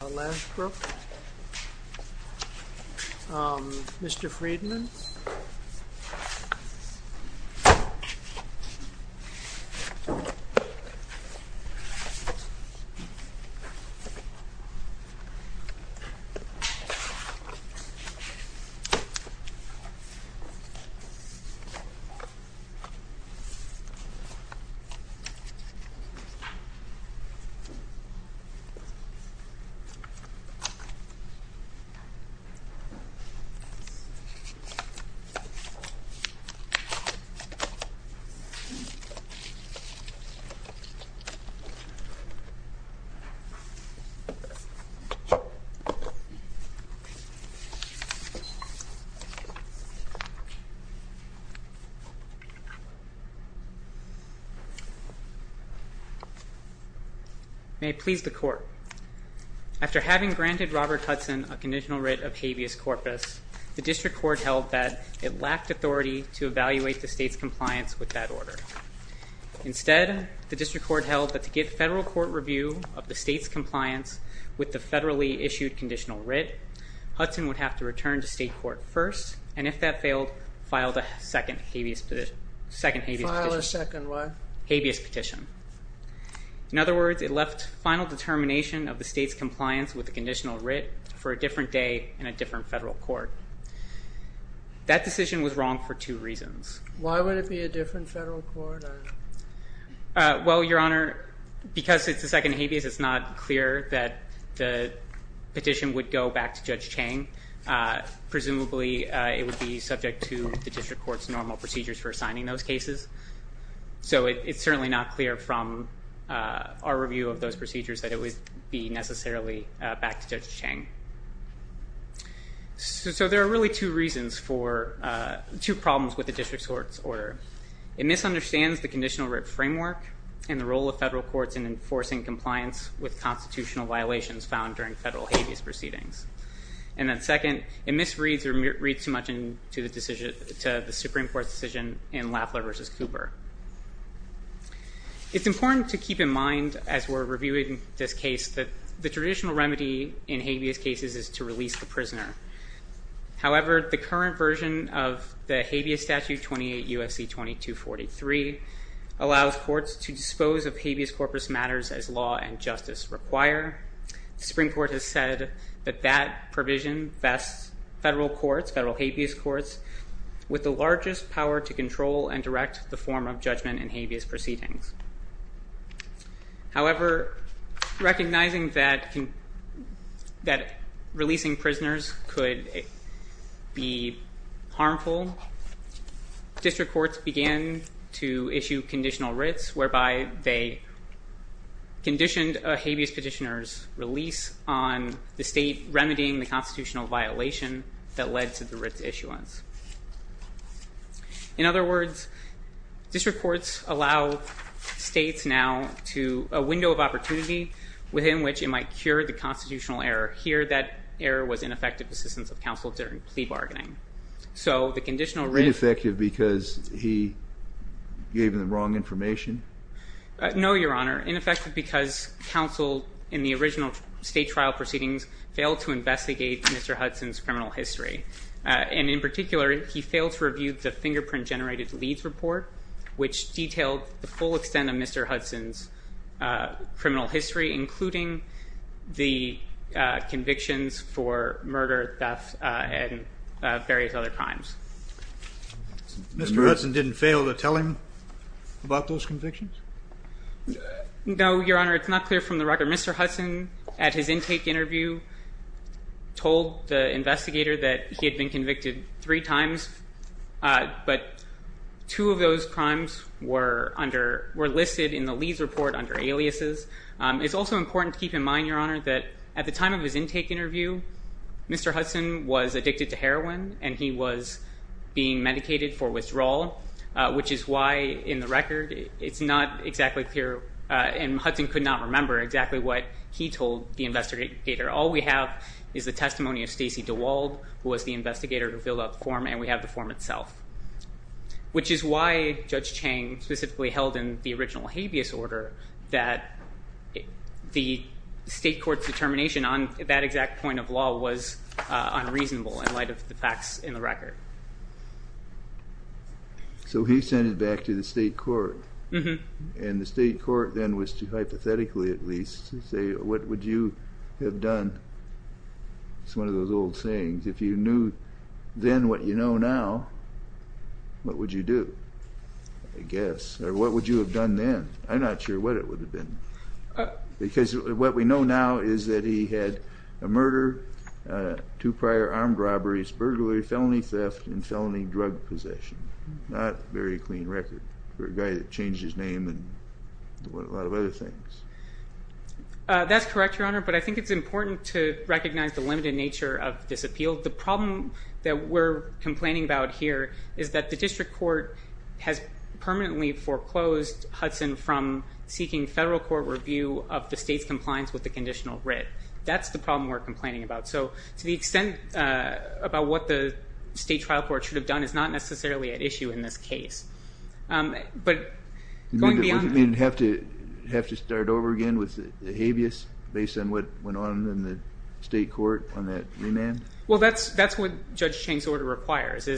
Lashbrook, um, Mr. Friedman May I please the court? After having granted Robert Hudson a conditional writ of habeas corpus, the district court held that it lacked authority to evaluate the state's compliance with that order. Instead, the district court held that to get federal court review of the state's compliance with the federally issued conditional writ, Hudson would have to return to state court first, and if that failed, file a second habeas petition. File a second what? Habeas petition. In other words, it left final determination of the state's compliance with the conditional writ for a different day in a different federal court. That decision was wrong for two reasons. Why would it be a different federal court? Well, Your Honor, because it's a second habeas, it's not clear that the petition would go back to Judge Chang. Presumably, it would be subject to the district court's normal procedures for assigning those cases. So it's certainly not clear from our review of those procedures that it would be necessarily back to Judge Chang. So there are really two reasons for, two problems with the district court's order. It misunderstands the conditional writ framework and the role of federal courts in enforcing compliance with constitutional violations found during federal habeas proceedings. And then second, it misreads or reads too much into the Supreme Court's decision in Lafleur v. Cooper. It's important to keep in mind as we're reviewing this case that the traditional remedy in habeas cases is to release the prisoner. However, the current version of the habeas statute, 28 U.S.C. 2243, allows courts to dispose of habeas corpus matters as law and justice require. The Supreme Court has said that that provision vests federal courts, federal habeas courts, with the largest power to control and direct the form of judgment in habeas proceedings. However, recognizing that releasing prisoners could be harmful, district courts began to issue conditional writs whereby they conditioned a habeas petitioner's release on the state remedying the constitutional violation that led to the writs issuance. In other words, district courts allow states now to a window of opportunity within which it might cure the constitutional error. Here, that error was ineffective assistance of counsel during plea bargaining. Ineffective because he gave them the wrong information? No, Your Honor. Ineffective because counsel in the original state trial proceedings failed to investigate Mr. Hudson's criminal history. And in particular, he failed to review the fingerprint-generated leads report, which detailed the full extent of Mr. Hudson's criminal history, including the convictions for murder, theft, and various other crimes. Mr. Hudson didn't fail to tell him about those convictions? No, Your Honor. It's not clear from the record. Mr. Hudson, at his intake interview, told the investigator that he had been convicted three times, but two of those crimes were listed in the leads report under aliases. It's also important to keep in mind, Your Honor, that at the time of his intake interview, Mr. Hudson was addicted to heroin, and he was being medicated for withdrawal, which is why, in the record, it's not exactly clear, and Hudson could not remember exactly what he told the investigator. All we have is the testimony of Stacey DeWald, who was the investigator who filled out the form, and we have the form itself, which is why Judge Chang specifically held in the original habeas order that the state court's determination on that exact point of law was unreasonable in light of the facts in the record. So he sent it back to the state court, and the state court then was to hypothetically, at least, say, what would you have done? It's one of those old sayings. If you knew then what you know now, what would you do, I guess, or what would you have done then? I'm not sure what it would have been, because what we know now is that he had a murder, two prior armed robberies, burglary, felony theft, and felony drug possession. Not a very clean record for a guy that changed his name and a lot of other things. That's correct, Your Honor, but I think it's important to recognize the limited nature of this appeal. The problem that we're complaining about here is that the district court has permanently foreclosed Hudson from seeking federal court review of the state's compliance with the conditional writ. That's the problem we're complaining about. So to the extent about what the state trial court should have done is not necessarily at issue in this case. Do you mean to have to start over again with the habeas based on what went on in the state court on that remand? Well, that's what Judge Chang's order requires.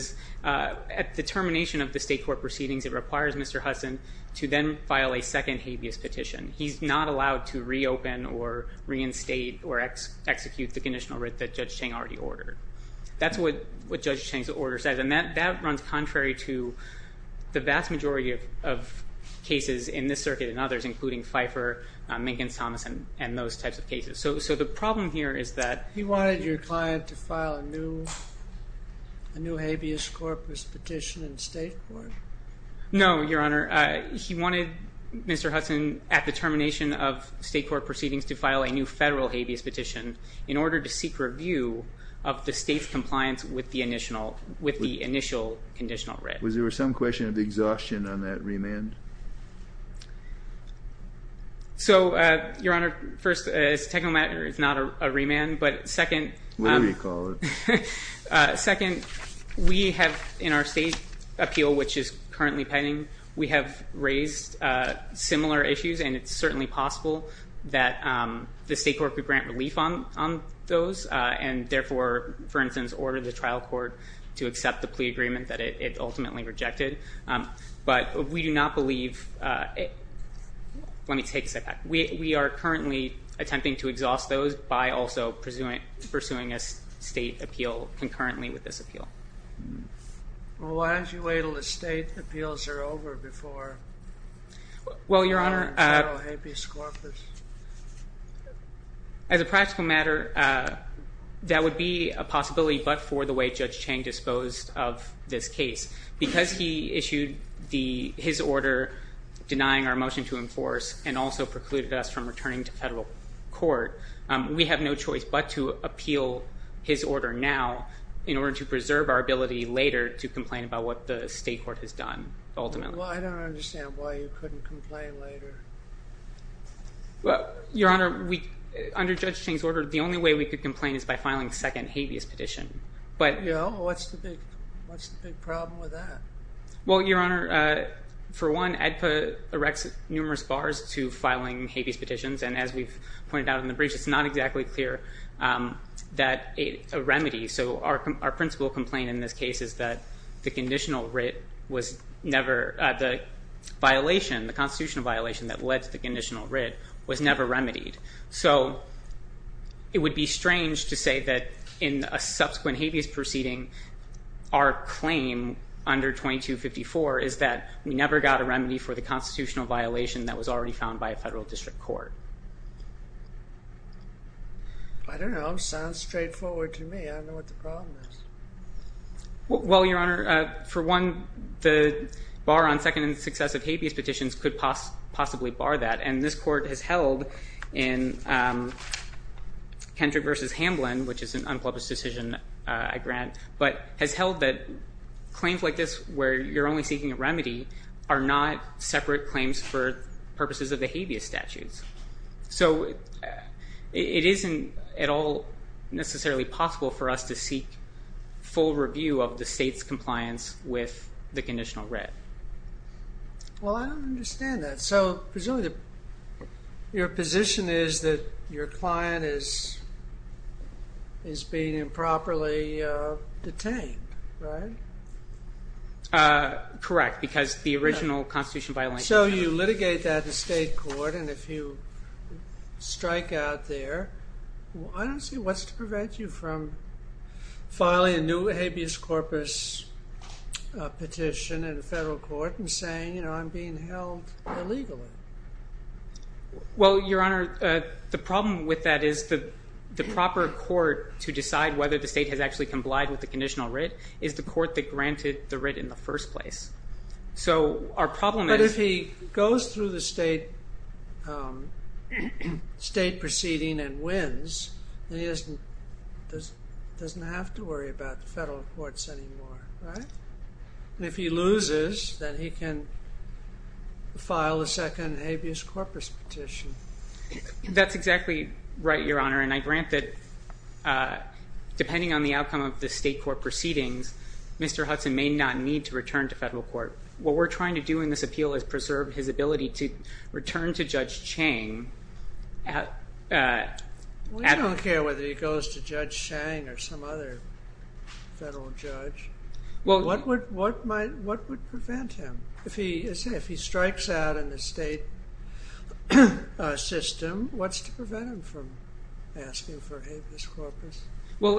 At the termination of the state court proceedings, it requires Mr. Hudson to then file a second habeas petition. He's not allowed to reopen or reinstate or execute the conditional writ that Judge Chang already ordered. That's what Judge Chang's order says, and that runs contrary to the vast majority of cases in this circuit and others, including Fifer, Minkins-Thomas, and those types of cases. So the problem here is that— He wanted your client to file a new habeas corpus petition in state court. No, Your Honor. He wanted Mr. Hudson at the termination of state court proceedings to file a new federal habeas petition in order to seek review of the state's compliance with the initial conditional writ. Was there some question of exhaustion on that remand? So, Your Honor, first, it's a technical matter. It's not a remand, but second— Whatever you call it. Second, we have in our state appeal, which is currently pending, we have raised similar issues, and it's certainly possible that the state court could grant relief on those and therefore, for instance, order the trial court to accept the plea agreement that it ultimately rejected. But we do not believe—let me take a second. We are currently attempting to exhaust those by also pursuing a state appeal concurrently with this appeal. Well, why don't you wait until the state appeals are over before— Well, Your Honor, as a practical matter, that would be a possibility but for the way Judge Chang disposed of this case. Because he issued his order denying our motion to enforce and also precluded us from returning to federal court, we have no choice but to appeal his order now in order to preserve our ability later to complain about what the state court has done ultimately. Well, I don't understand why you couldn't complain later. Your Honor, under Judge Chang's order, the only way we could complain is by filing a second habeas petition. What's the big problem with that? Well, Your Honor, for one, AEDPA erects numerous bars to filing habeas petitions and as we've pointed out in the brief, it's not exactly clear that a remedy— that the constitutional violation that led to the conditional writ was never remedied. So it would be strange to say that in a subsequent habeas proceeding, our claim under 2254 is that we never got a remedy for the constitutional violation that was already found by a federal district court. I don't know. It sounds straightforward to me. I don't know what the problem is. Well, Your Honor, for one, the bar on second and successive habeas petitions could possibly bar that, and this court has held in Kendrick v. Hamblin, which is an unpublished decision I grant, but has held that claims like this where you're only seeking a remedy are not separate claims for purposes of the habeas statutes. So it isn't at all necessarily possible for us to seek full review of the state's compliance with the conditional writ. Well, I don't understand that. So presumably your position is that your client is being improperly detained, right? Correct, because the original constitutional violation— So you litigate that in state court, and if you strike out there, I don't see what's to prevent you from filing a new habeas corpus petition in a federal court and saying, you know, I'm being held illegally. Well, Your Honor, the problem with that is the proper court to decide whether the state has actually complied with the conditional writ is the court that granted the writ in the first place. So our problem is— But if he goes through the state proceeding and wins, then he doesn't have to worry about the federal courts anymore, right? And if he loses, then he can file a second habeas corpus petition. That's exactly right, Your Honor, and I grant that depending on the outcome of the state court proceedings, Mr. Hudson may not need to return to federal court. What we're trying to do in this appeal is preserve his ability to return to Judge Chang. We don't care whether he goes to Judge Chang or some other federal judge. What would prevent him? If he strikes out in the state system, what's to prevent him from asking for a habeas corpus? Well,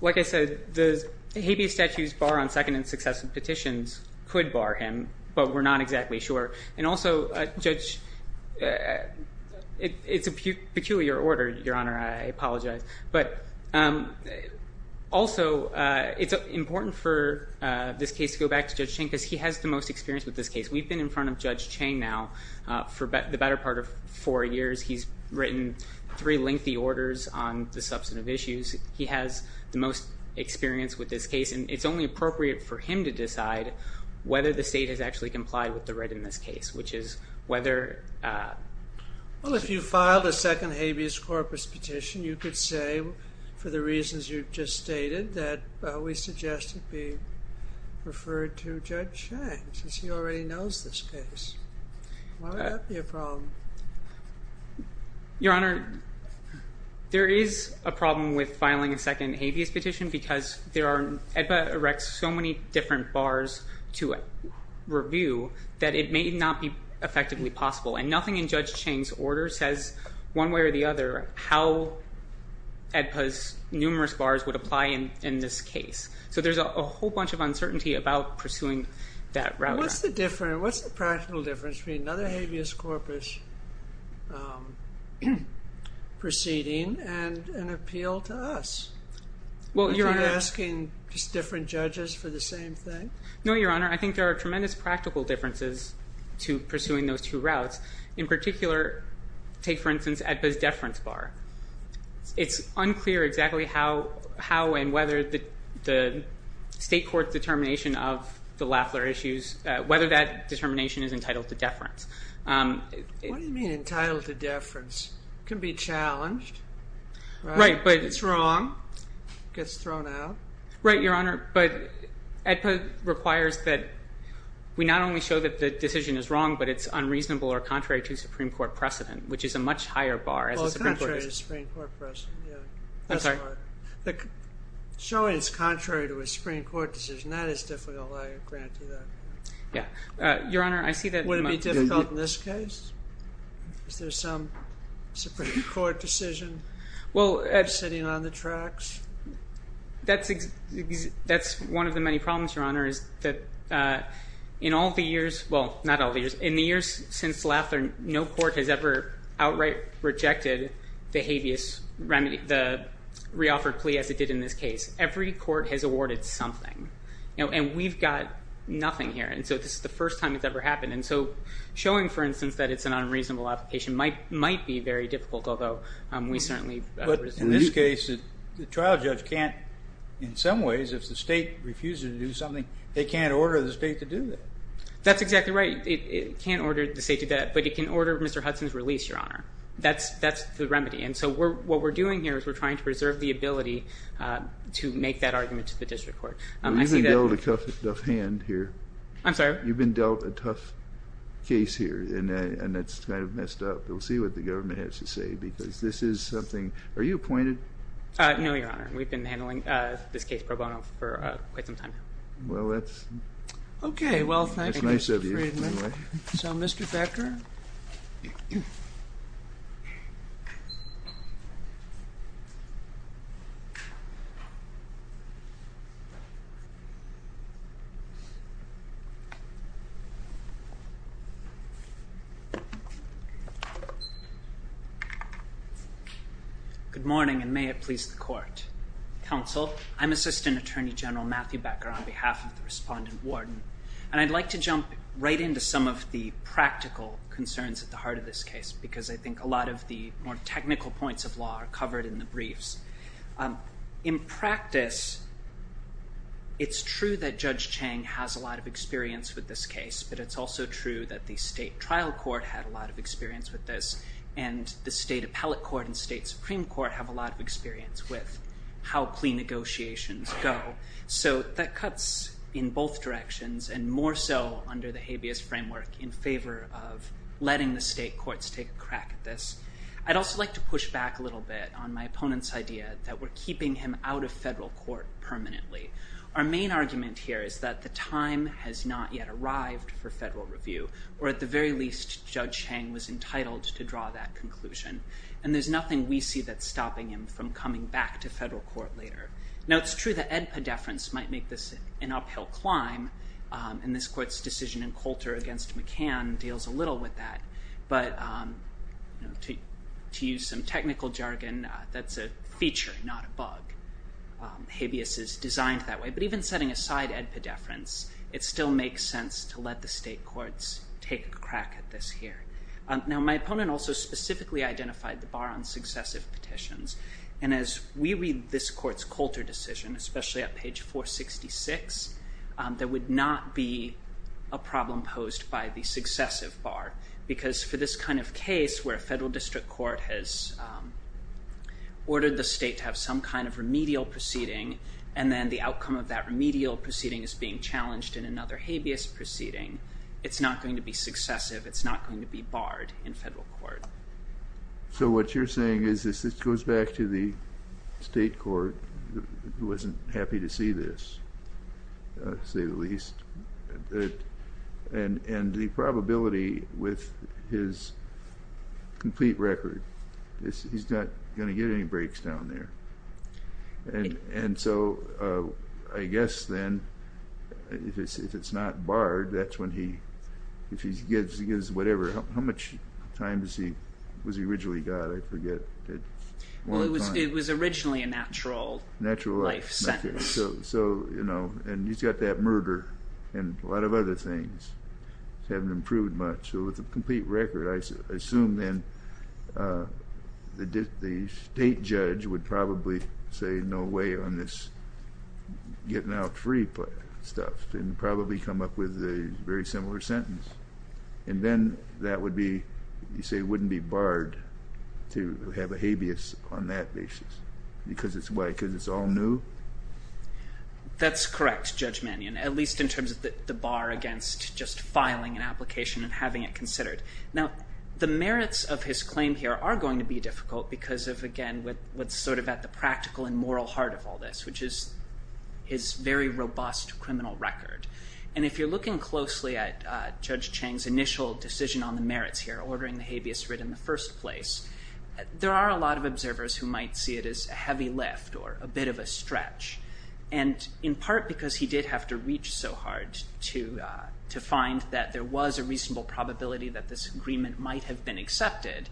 like I said, the habeas statutes bar on second and successive petitions could bar him, but we're not exactly sure. And also, Judge, it's a peculiar order, Your Honor, I apologize. But also, it's important for this case to go back to Judge Chang because he has the most experience with this case. We've been in front of Judge Chang now for the better part of four years. He's written three lengthy orders on the substantive issues. He has the most experience with this case, and it's only appropriate for him to decide whether the state has actually complied with the writ in this case, which is whether... Well, if you filed a second habeas corpus petition, you could say, for the reasons you've just stated, that we suggest it be referred to Judge Chang since he already knows this case. Why would that be a problem? Your Honor, there is a problem with filing a second habeas petition because there are, EDPA erects so many different bars to review that it may not be effectively possible. And nothing in Judge Chang's order says one way or the other how EDPA's numerous bars would apply in this case. So there's a whole bunch of uncertainty about pursuing that route. What's the practical difference between another habeas corpus proceeding and an appeal to us? If you're asking just different judges for the same thing? No, Your Honor, I think there are tremendous practical differences to pursuing those two routes. In particular, take, for instance, EDPA's deference bar. It's unclear exactly how and whether the state court determination of the Lafler issues, whether that determination is entitled to deference. What do you mean entitled to deference? It can be challenged. Right, but... It's wrong. It gets thrown out. Right, Your Honor, but EDPA requires that we not only show that the decision is wrong, but it's unreasonable or contrary to Supreme Court precedent, which is a much higher bar. Well, contrary to Supreme Court precedent, yeah. I'm sorry? Showing it's contrary to a Supreme Court decision, that is difficult, I grant you that. Yeah. Your Honor, I see that... Would it be difficult in this case? Is there some Supreme Court decision sitting on the tracks? That's one of the many problems, Your Honor, is that in all the years... the habeas remedy, the reoffered plea as it did in this case, every court has awarded something. And we've got nothing here, and so this is the first time it's ever happened. And so showing, for instance, that it's an unreasonable application might be very difficult, although we certainly... But in this case, the trial judge can't, in some ways, if the state refuses to do something, they can't order the state to do that. That's exactly right. It can't order the state to do that, but it can order Mr. Hudson's release, Your Honor. That's the remedy. And so what we're doing here is we're trying to preserve the ability to make that argument to the district court. You've been dealt a tough hand here. I'm sorry? You've been dealt a tough case here, and it's kind of messed up. We'll see what the government has to say, because this is something... Are you appointed? No, Your Honor. We've been handling this case pro bono for quite some time now. Well, that's nice of you. So, Mr. Becker? Good morning, and may it please the court. Counsel, I'm Assistant Attorney General Matthew Becker on behalf of the respondent warden, and I'd like to jump right into some of the practical concerns at the heart of this case, because I think a lot of the more technical points of law are covered in the briefs. In practice, it's true that Judge Chang has a lot of experience with this case, but it's also true that the state trial court had a lot of experience with this, and the state appellate court and state supreme court have a lot of experience with how plea negotiations go. So that cuts in both directions, and more so under the habeas framework in favor of letting the state courts take a crack at this. I'd also like to push back a little bit on my opponent's idea that we're keeping him out of federal court permanently. Our main argument here is that the time has not yet arrived for federal review, or at the very least, Judge Chang was entitled to draw that conclusion, and there's nothing we see that's stopping him from coming back to federal court later. Now, it's true that edpedeference might make this an uphill climb, and this court's decision in Coulter against McCann deals a little with that, but to use some technical jargon, that's a feature, not a bug. Habeas is designed that way, but even setting aside edpedeference, it still makes sense to let the state courts take a crack at this here. Now, my opponent also specifically identified the bar on successive petitions, and as we read this court's Coulter decision, especially at page 466, there would not be a problem posed by the successive bar, because for this kind of case where a federal district court has ordered the state to have some kind of remedial proceeding, and then the outcome of that remedial proceeding is being challenged in another habeas proceeding, it's not going to be successive. It's not going to be barred in federal court. So what you're saying is this goes back to the state court, who wasn't happy to see this, to say the least, and the probability with his complete record is he's not going to get any breaks down there. And so I guess then if it's not barred, that's when he, if he gives whatever, how much time was he originally got? I forget. Well, it was originally a natural life sentence. So, you know, and he's got that murder and a lot of other things haven't improved much. So with a complete record, I assume then the state judge would probably say no way on this getting out free stuff and probably come up with a very similar sentence. And then that would be, you say it wouldn't be barred to have a habeas on that basis because it's all new? That's correct, Judge Mannion, at least in terms of the bar against just filing an application and having it considered. Now, the merits of his claim here are going to be difficult because of, again, what's sort of at the practical and moral heart of all this, which is his very robust criminal record. And if you're looking closely at Judge Chang's initial decision on the merits here, ordering the habeas writ in the first place, there are a lot of observers who might see it as a heavy lift or a bit of a stretch. And in part because he did have to reach so hard to, to find that there was a reasonable probability that this agreement might have been accepted.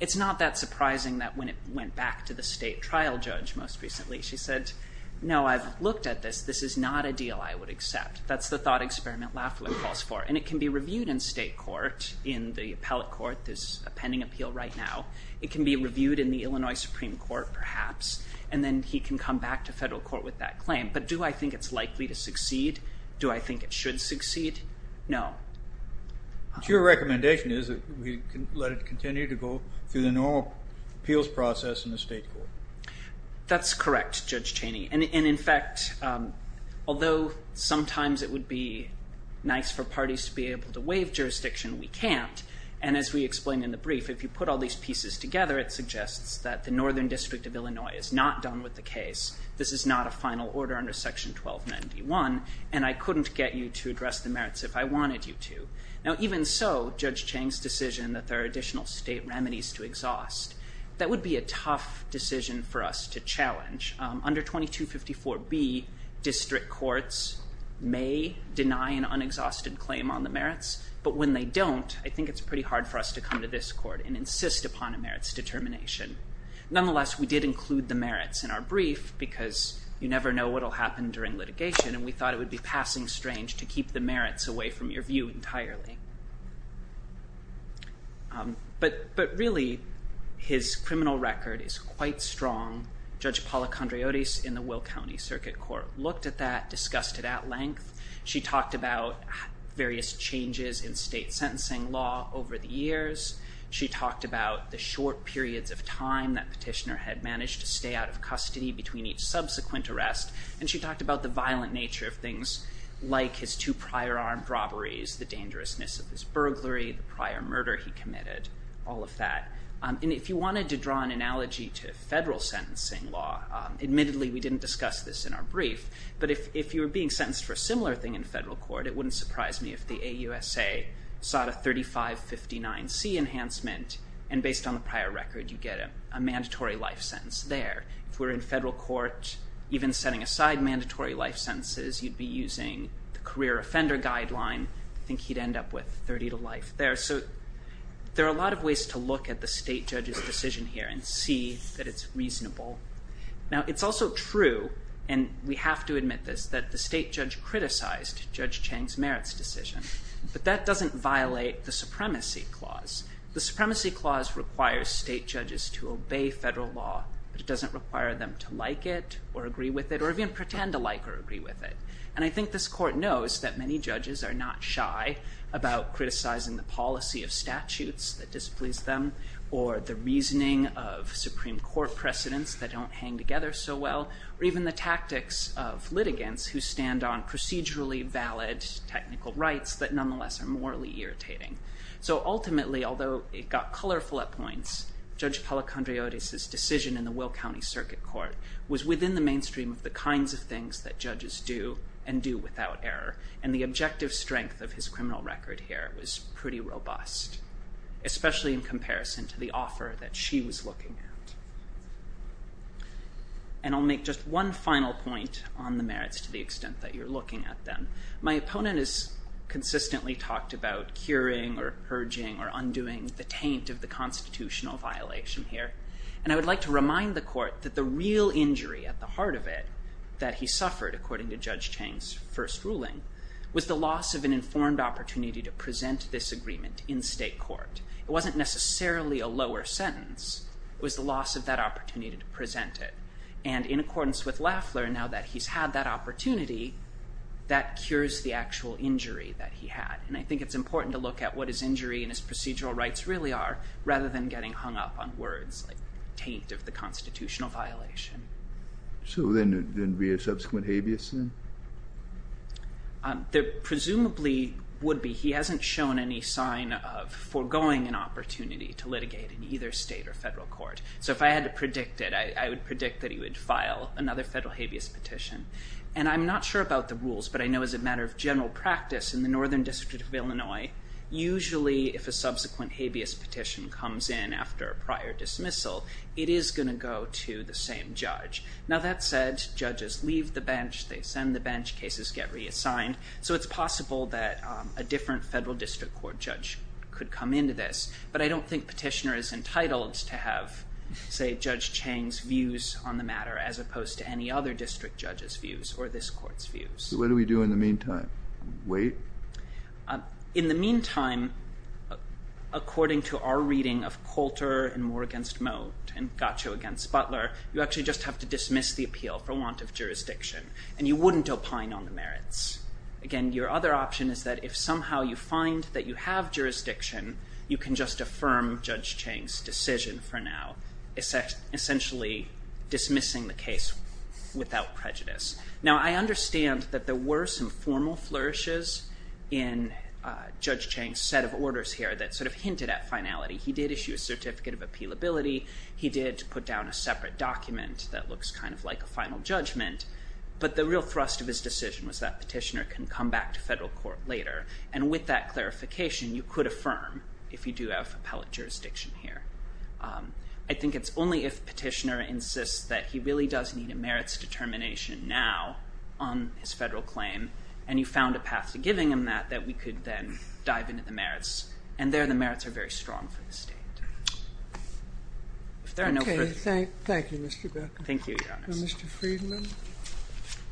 It's not that surprising that when it went back to the state trial judge most recently, she said, no, I've looked at this. This is not a deal I would accept. That's the thought experiment Lafleur calls for. And it can be reviewed in state court, in the appellate court. There's a pending appeal right now. It can be reviewed in the Illinois Supreme Court, perhaps. And then he can come back to federal court with that claim. But do I think it's likely to succeed? Do I think it should succeed? No. Your recommendation is that we let it continue to go through the normal appeals process in the state court. That's correct, Judge Cheney. And in fact, although sometimes it would be nice for parties to be able to waive jurisdiction, we can't. And as we explained in the brief, if you put all these pieces together, it suggests that the Northern District of Illinois is not done with the case. This is not a final order under Section 1291. And I couldn't get you to address the merits if I wanted you to. Now, even so, Judge Chang's decision that there are additional state remedies to exhaust. That would be a tough decision for us to challenge. Under 2254B, district courts may deny an unexhausted claim on the merits. But when they don't, I think it's pretty hard for us to come to this court and insist upon a merits determination. Nonetheless, we did include the merits in our brief because you never know what will happen during litigation. And we thought it would be passing strange to keep the merits away from your view entirely. But really, his criminal record is quite strong. Judge Paula Condreodis in the Will County Circuit Court looked at that, discussed it at length. She talked about various changes in state sentencing law over the years. She talked about the short periods of time that petitioner had managed to stay out of custody between each subsequent arrest. And she talked about the violent nature of things like his two prior armed robberies, the dangerousness of his burglary, the prior murder he committed, all of that. And if you wanted to draw an analogy to federal sentencing law, admittedly, we didn't discuss this in our brief. But if you were being sentenced for a similar thing in federal court, it wouldn't surprise me if the AUSA sought a 3559C enhancement. And based on the prior record, you get a mandatory life sentence there. If we're in federal court, even setting aside mandatory life sentences, you'd be using the career offender guideline. I think he'd end up with 30 to life there. So there are a lot of ways to look at the state judge's decision here and see that it's reasonable. Now, it's also true, and we have to admit this, that the state judge criticized Judge Chang's merits decision. But that doesn't violate the supremacy clause. The supremacy clause requires state judges to obey federal law. But it doesn't require them to like it or agree with it or even pretend to like or agree with it. And I think this court knows that many judges are not shy about criticizing the policy of statutes that displease them or the reasoning of Supreme Court precedents that don't hang together so well or even the tactics of litigants who stand on procedurally valid technical rights that nonetheless are morally irritating. So ultimately, although it got colorful at points, Judge Pellicandriotis's decision in the Will County Circuit Court was within the mainstream of the kinds of things that judges do and do without error. And the objective strength of his criminal record here was pretty robust, especially in comparison to the offer that she was looking at. And I'll make just one final point on the merits to the extent that you're looking at them. My opponent has consistently talked about curing or urging or undoing the taint of the constitutional violation here. And I would like to remind the court that the real injury at the heart of it, that he suffered according to Judge Chang's first ruling, was the loss of an informed opportunity to present this agreement in state court. It wasn't necessarily a lower sentence. It was the loss of that opportunity to present it. And in accordance with Lafler, now that he's had that opportunity, that cures the actual injury that he had. And I think it's important to look at what his injury and his procedural rights really are, rather than getting hung up on words like taint of the constitutional violation. So then there'd be a subsequent habeas then? There presumably would be. He hasn't shown any sign of foregoing an opportunity to litigate in either state or federal court. So if I had to predict it, I would predict that he would file another federal habeas petition. And I'm not sure about the rules, but I know as a matter of general practice, in the Northern District of Illinois, usually if a subsequent habeas petition comes in after a prior dismissal, it is going to go to the same judge. Now that said, judges leave the bench. They send the bench. Cases get reassigned. So it's possible that a different federal district court judge could come into this. But I don't think petitioner is entitled to have, say, Judge Chang's views on the matter, as opposed to any other district judge's views or this court's views. So what do we do in the meantime? Wait? In the meantime, according to our reading of Coulter and Moore against Moat and Gaccio against Butler, you actually just have to dismiss the appeal for want of jurisdiction. And you wouldn't opine on the merits. Again, your other option is that if somehow you find that you have jurisdiction, you can just affirm Judge Chang's decision for now, essentially dismissing the case without prejudice. Now, I understand that there were some formal flourishes in Judge Chang's set of orders here that sort of hinted at finality. He did issue a certificate of appealability. He did put down a separate document that looks kind of like a final judgment. But the real thrust of his decision was that petitioner can come back to federal court later. And with that clarification, you could affirm if you do have appellate jurisdiction here. I think it's only if petitioner insists that he really does need a merits determination now on his federal claim and you found a path to giving him that, that we could then dive into the merits. And there the merits are very strong for the state. If there are no further questions. Okay. Thank you, Mr. Beck. Thank you, Your Honors. Mr. Friedman,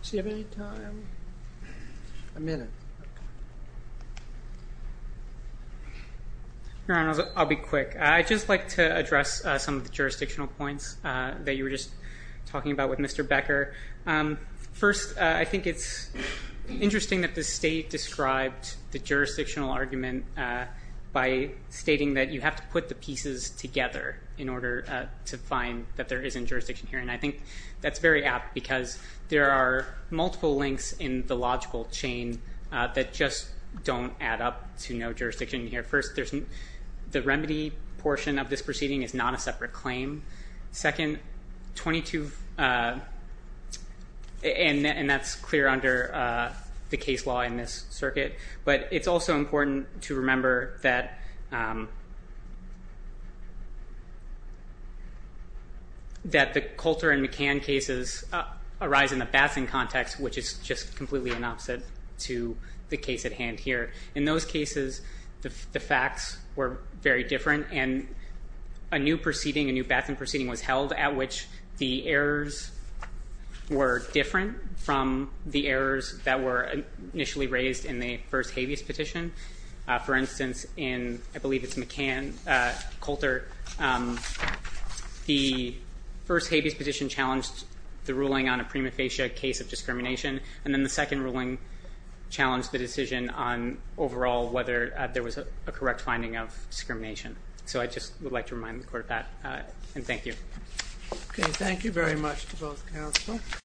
does he have any time? A minute. Your Honors, I'll be quick. I'd just like to address some of the jurisdictional points that you were just talking about with Mr. Becker. First, I think it's interesting that the state described the jurisdictional argument by stating that you have to put the pieces together in order to find that there isn't jurisdiction here. And I think that's very apt because there are multiple links in the logical chain that just don't add up to no jurisdiction here. First, the remedy portion of this proceeding is not a separate claim. Second, 22, and that's clear under the case law in this circuit. But it's also important to remember that the Coulter and McCann cases arise in the Batson context, which is just completely an opposite to the case at hand here. In those cases, the facts were very different, and a new proceeding, a new Batson proceeding, was held at which the errors were different from the errors that were initially raised in the first habeas petition. For instance, in I believe it's McCann, Coulter, the first habeas petition challenged the ruling on a prima facie case of discrimination, and then the second ruling challenged the decision on overall whether there was a correct finding of discrimination. So I just would like to remind the court of that, and thank you. Okay, thank you very much to both counsel.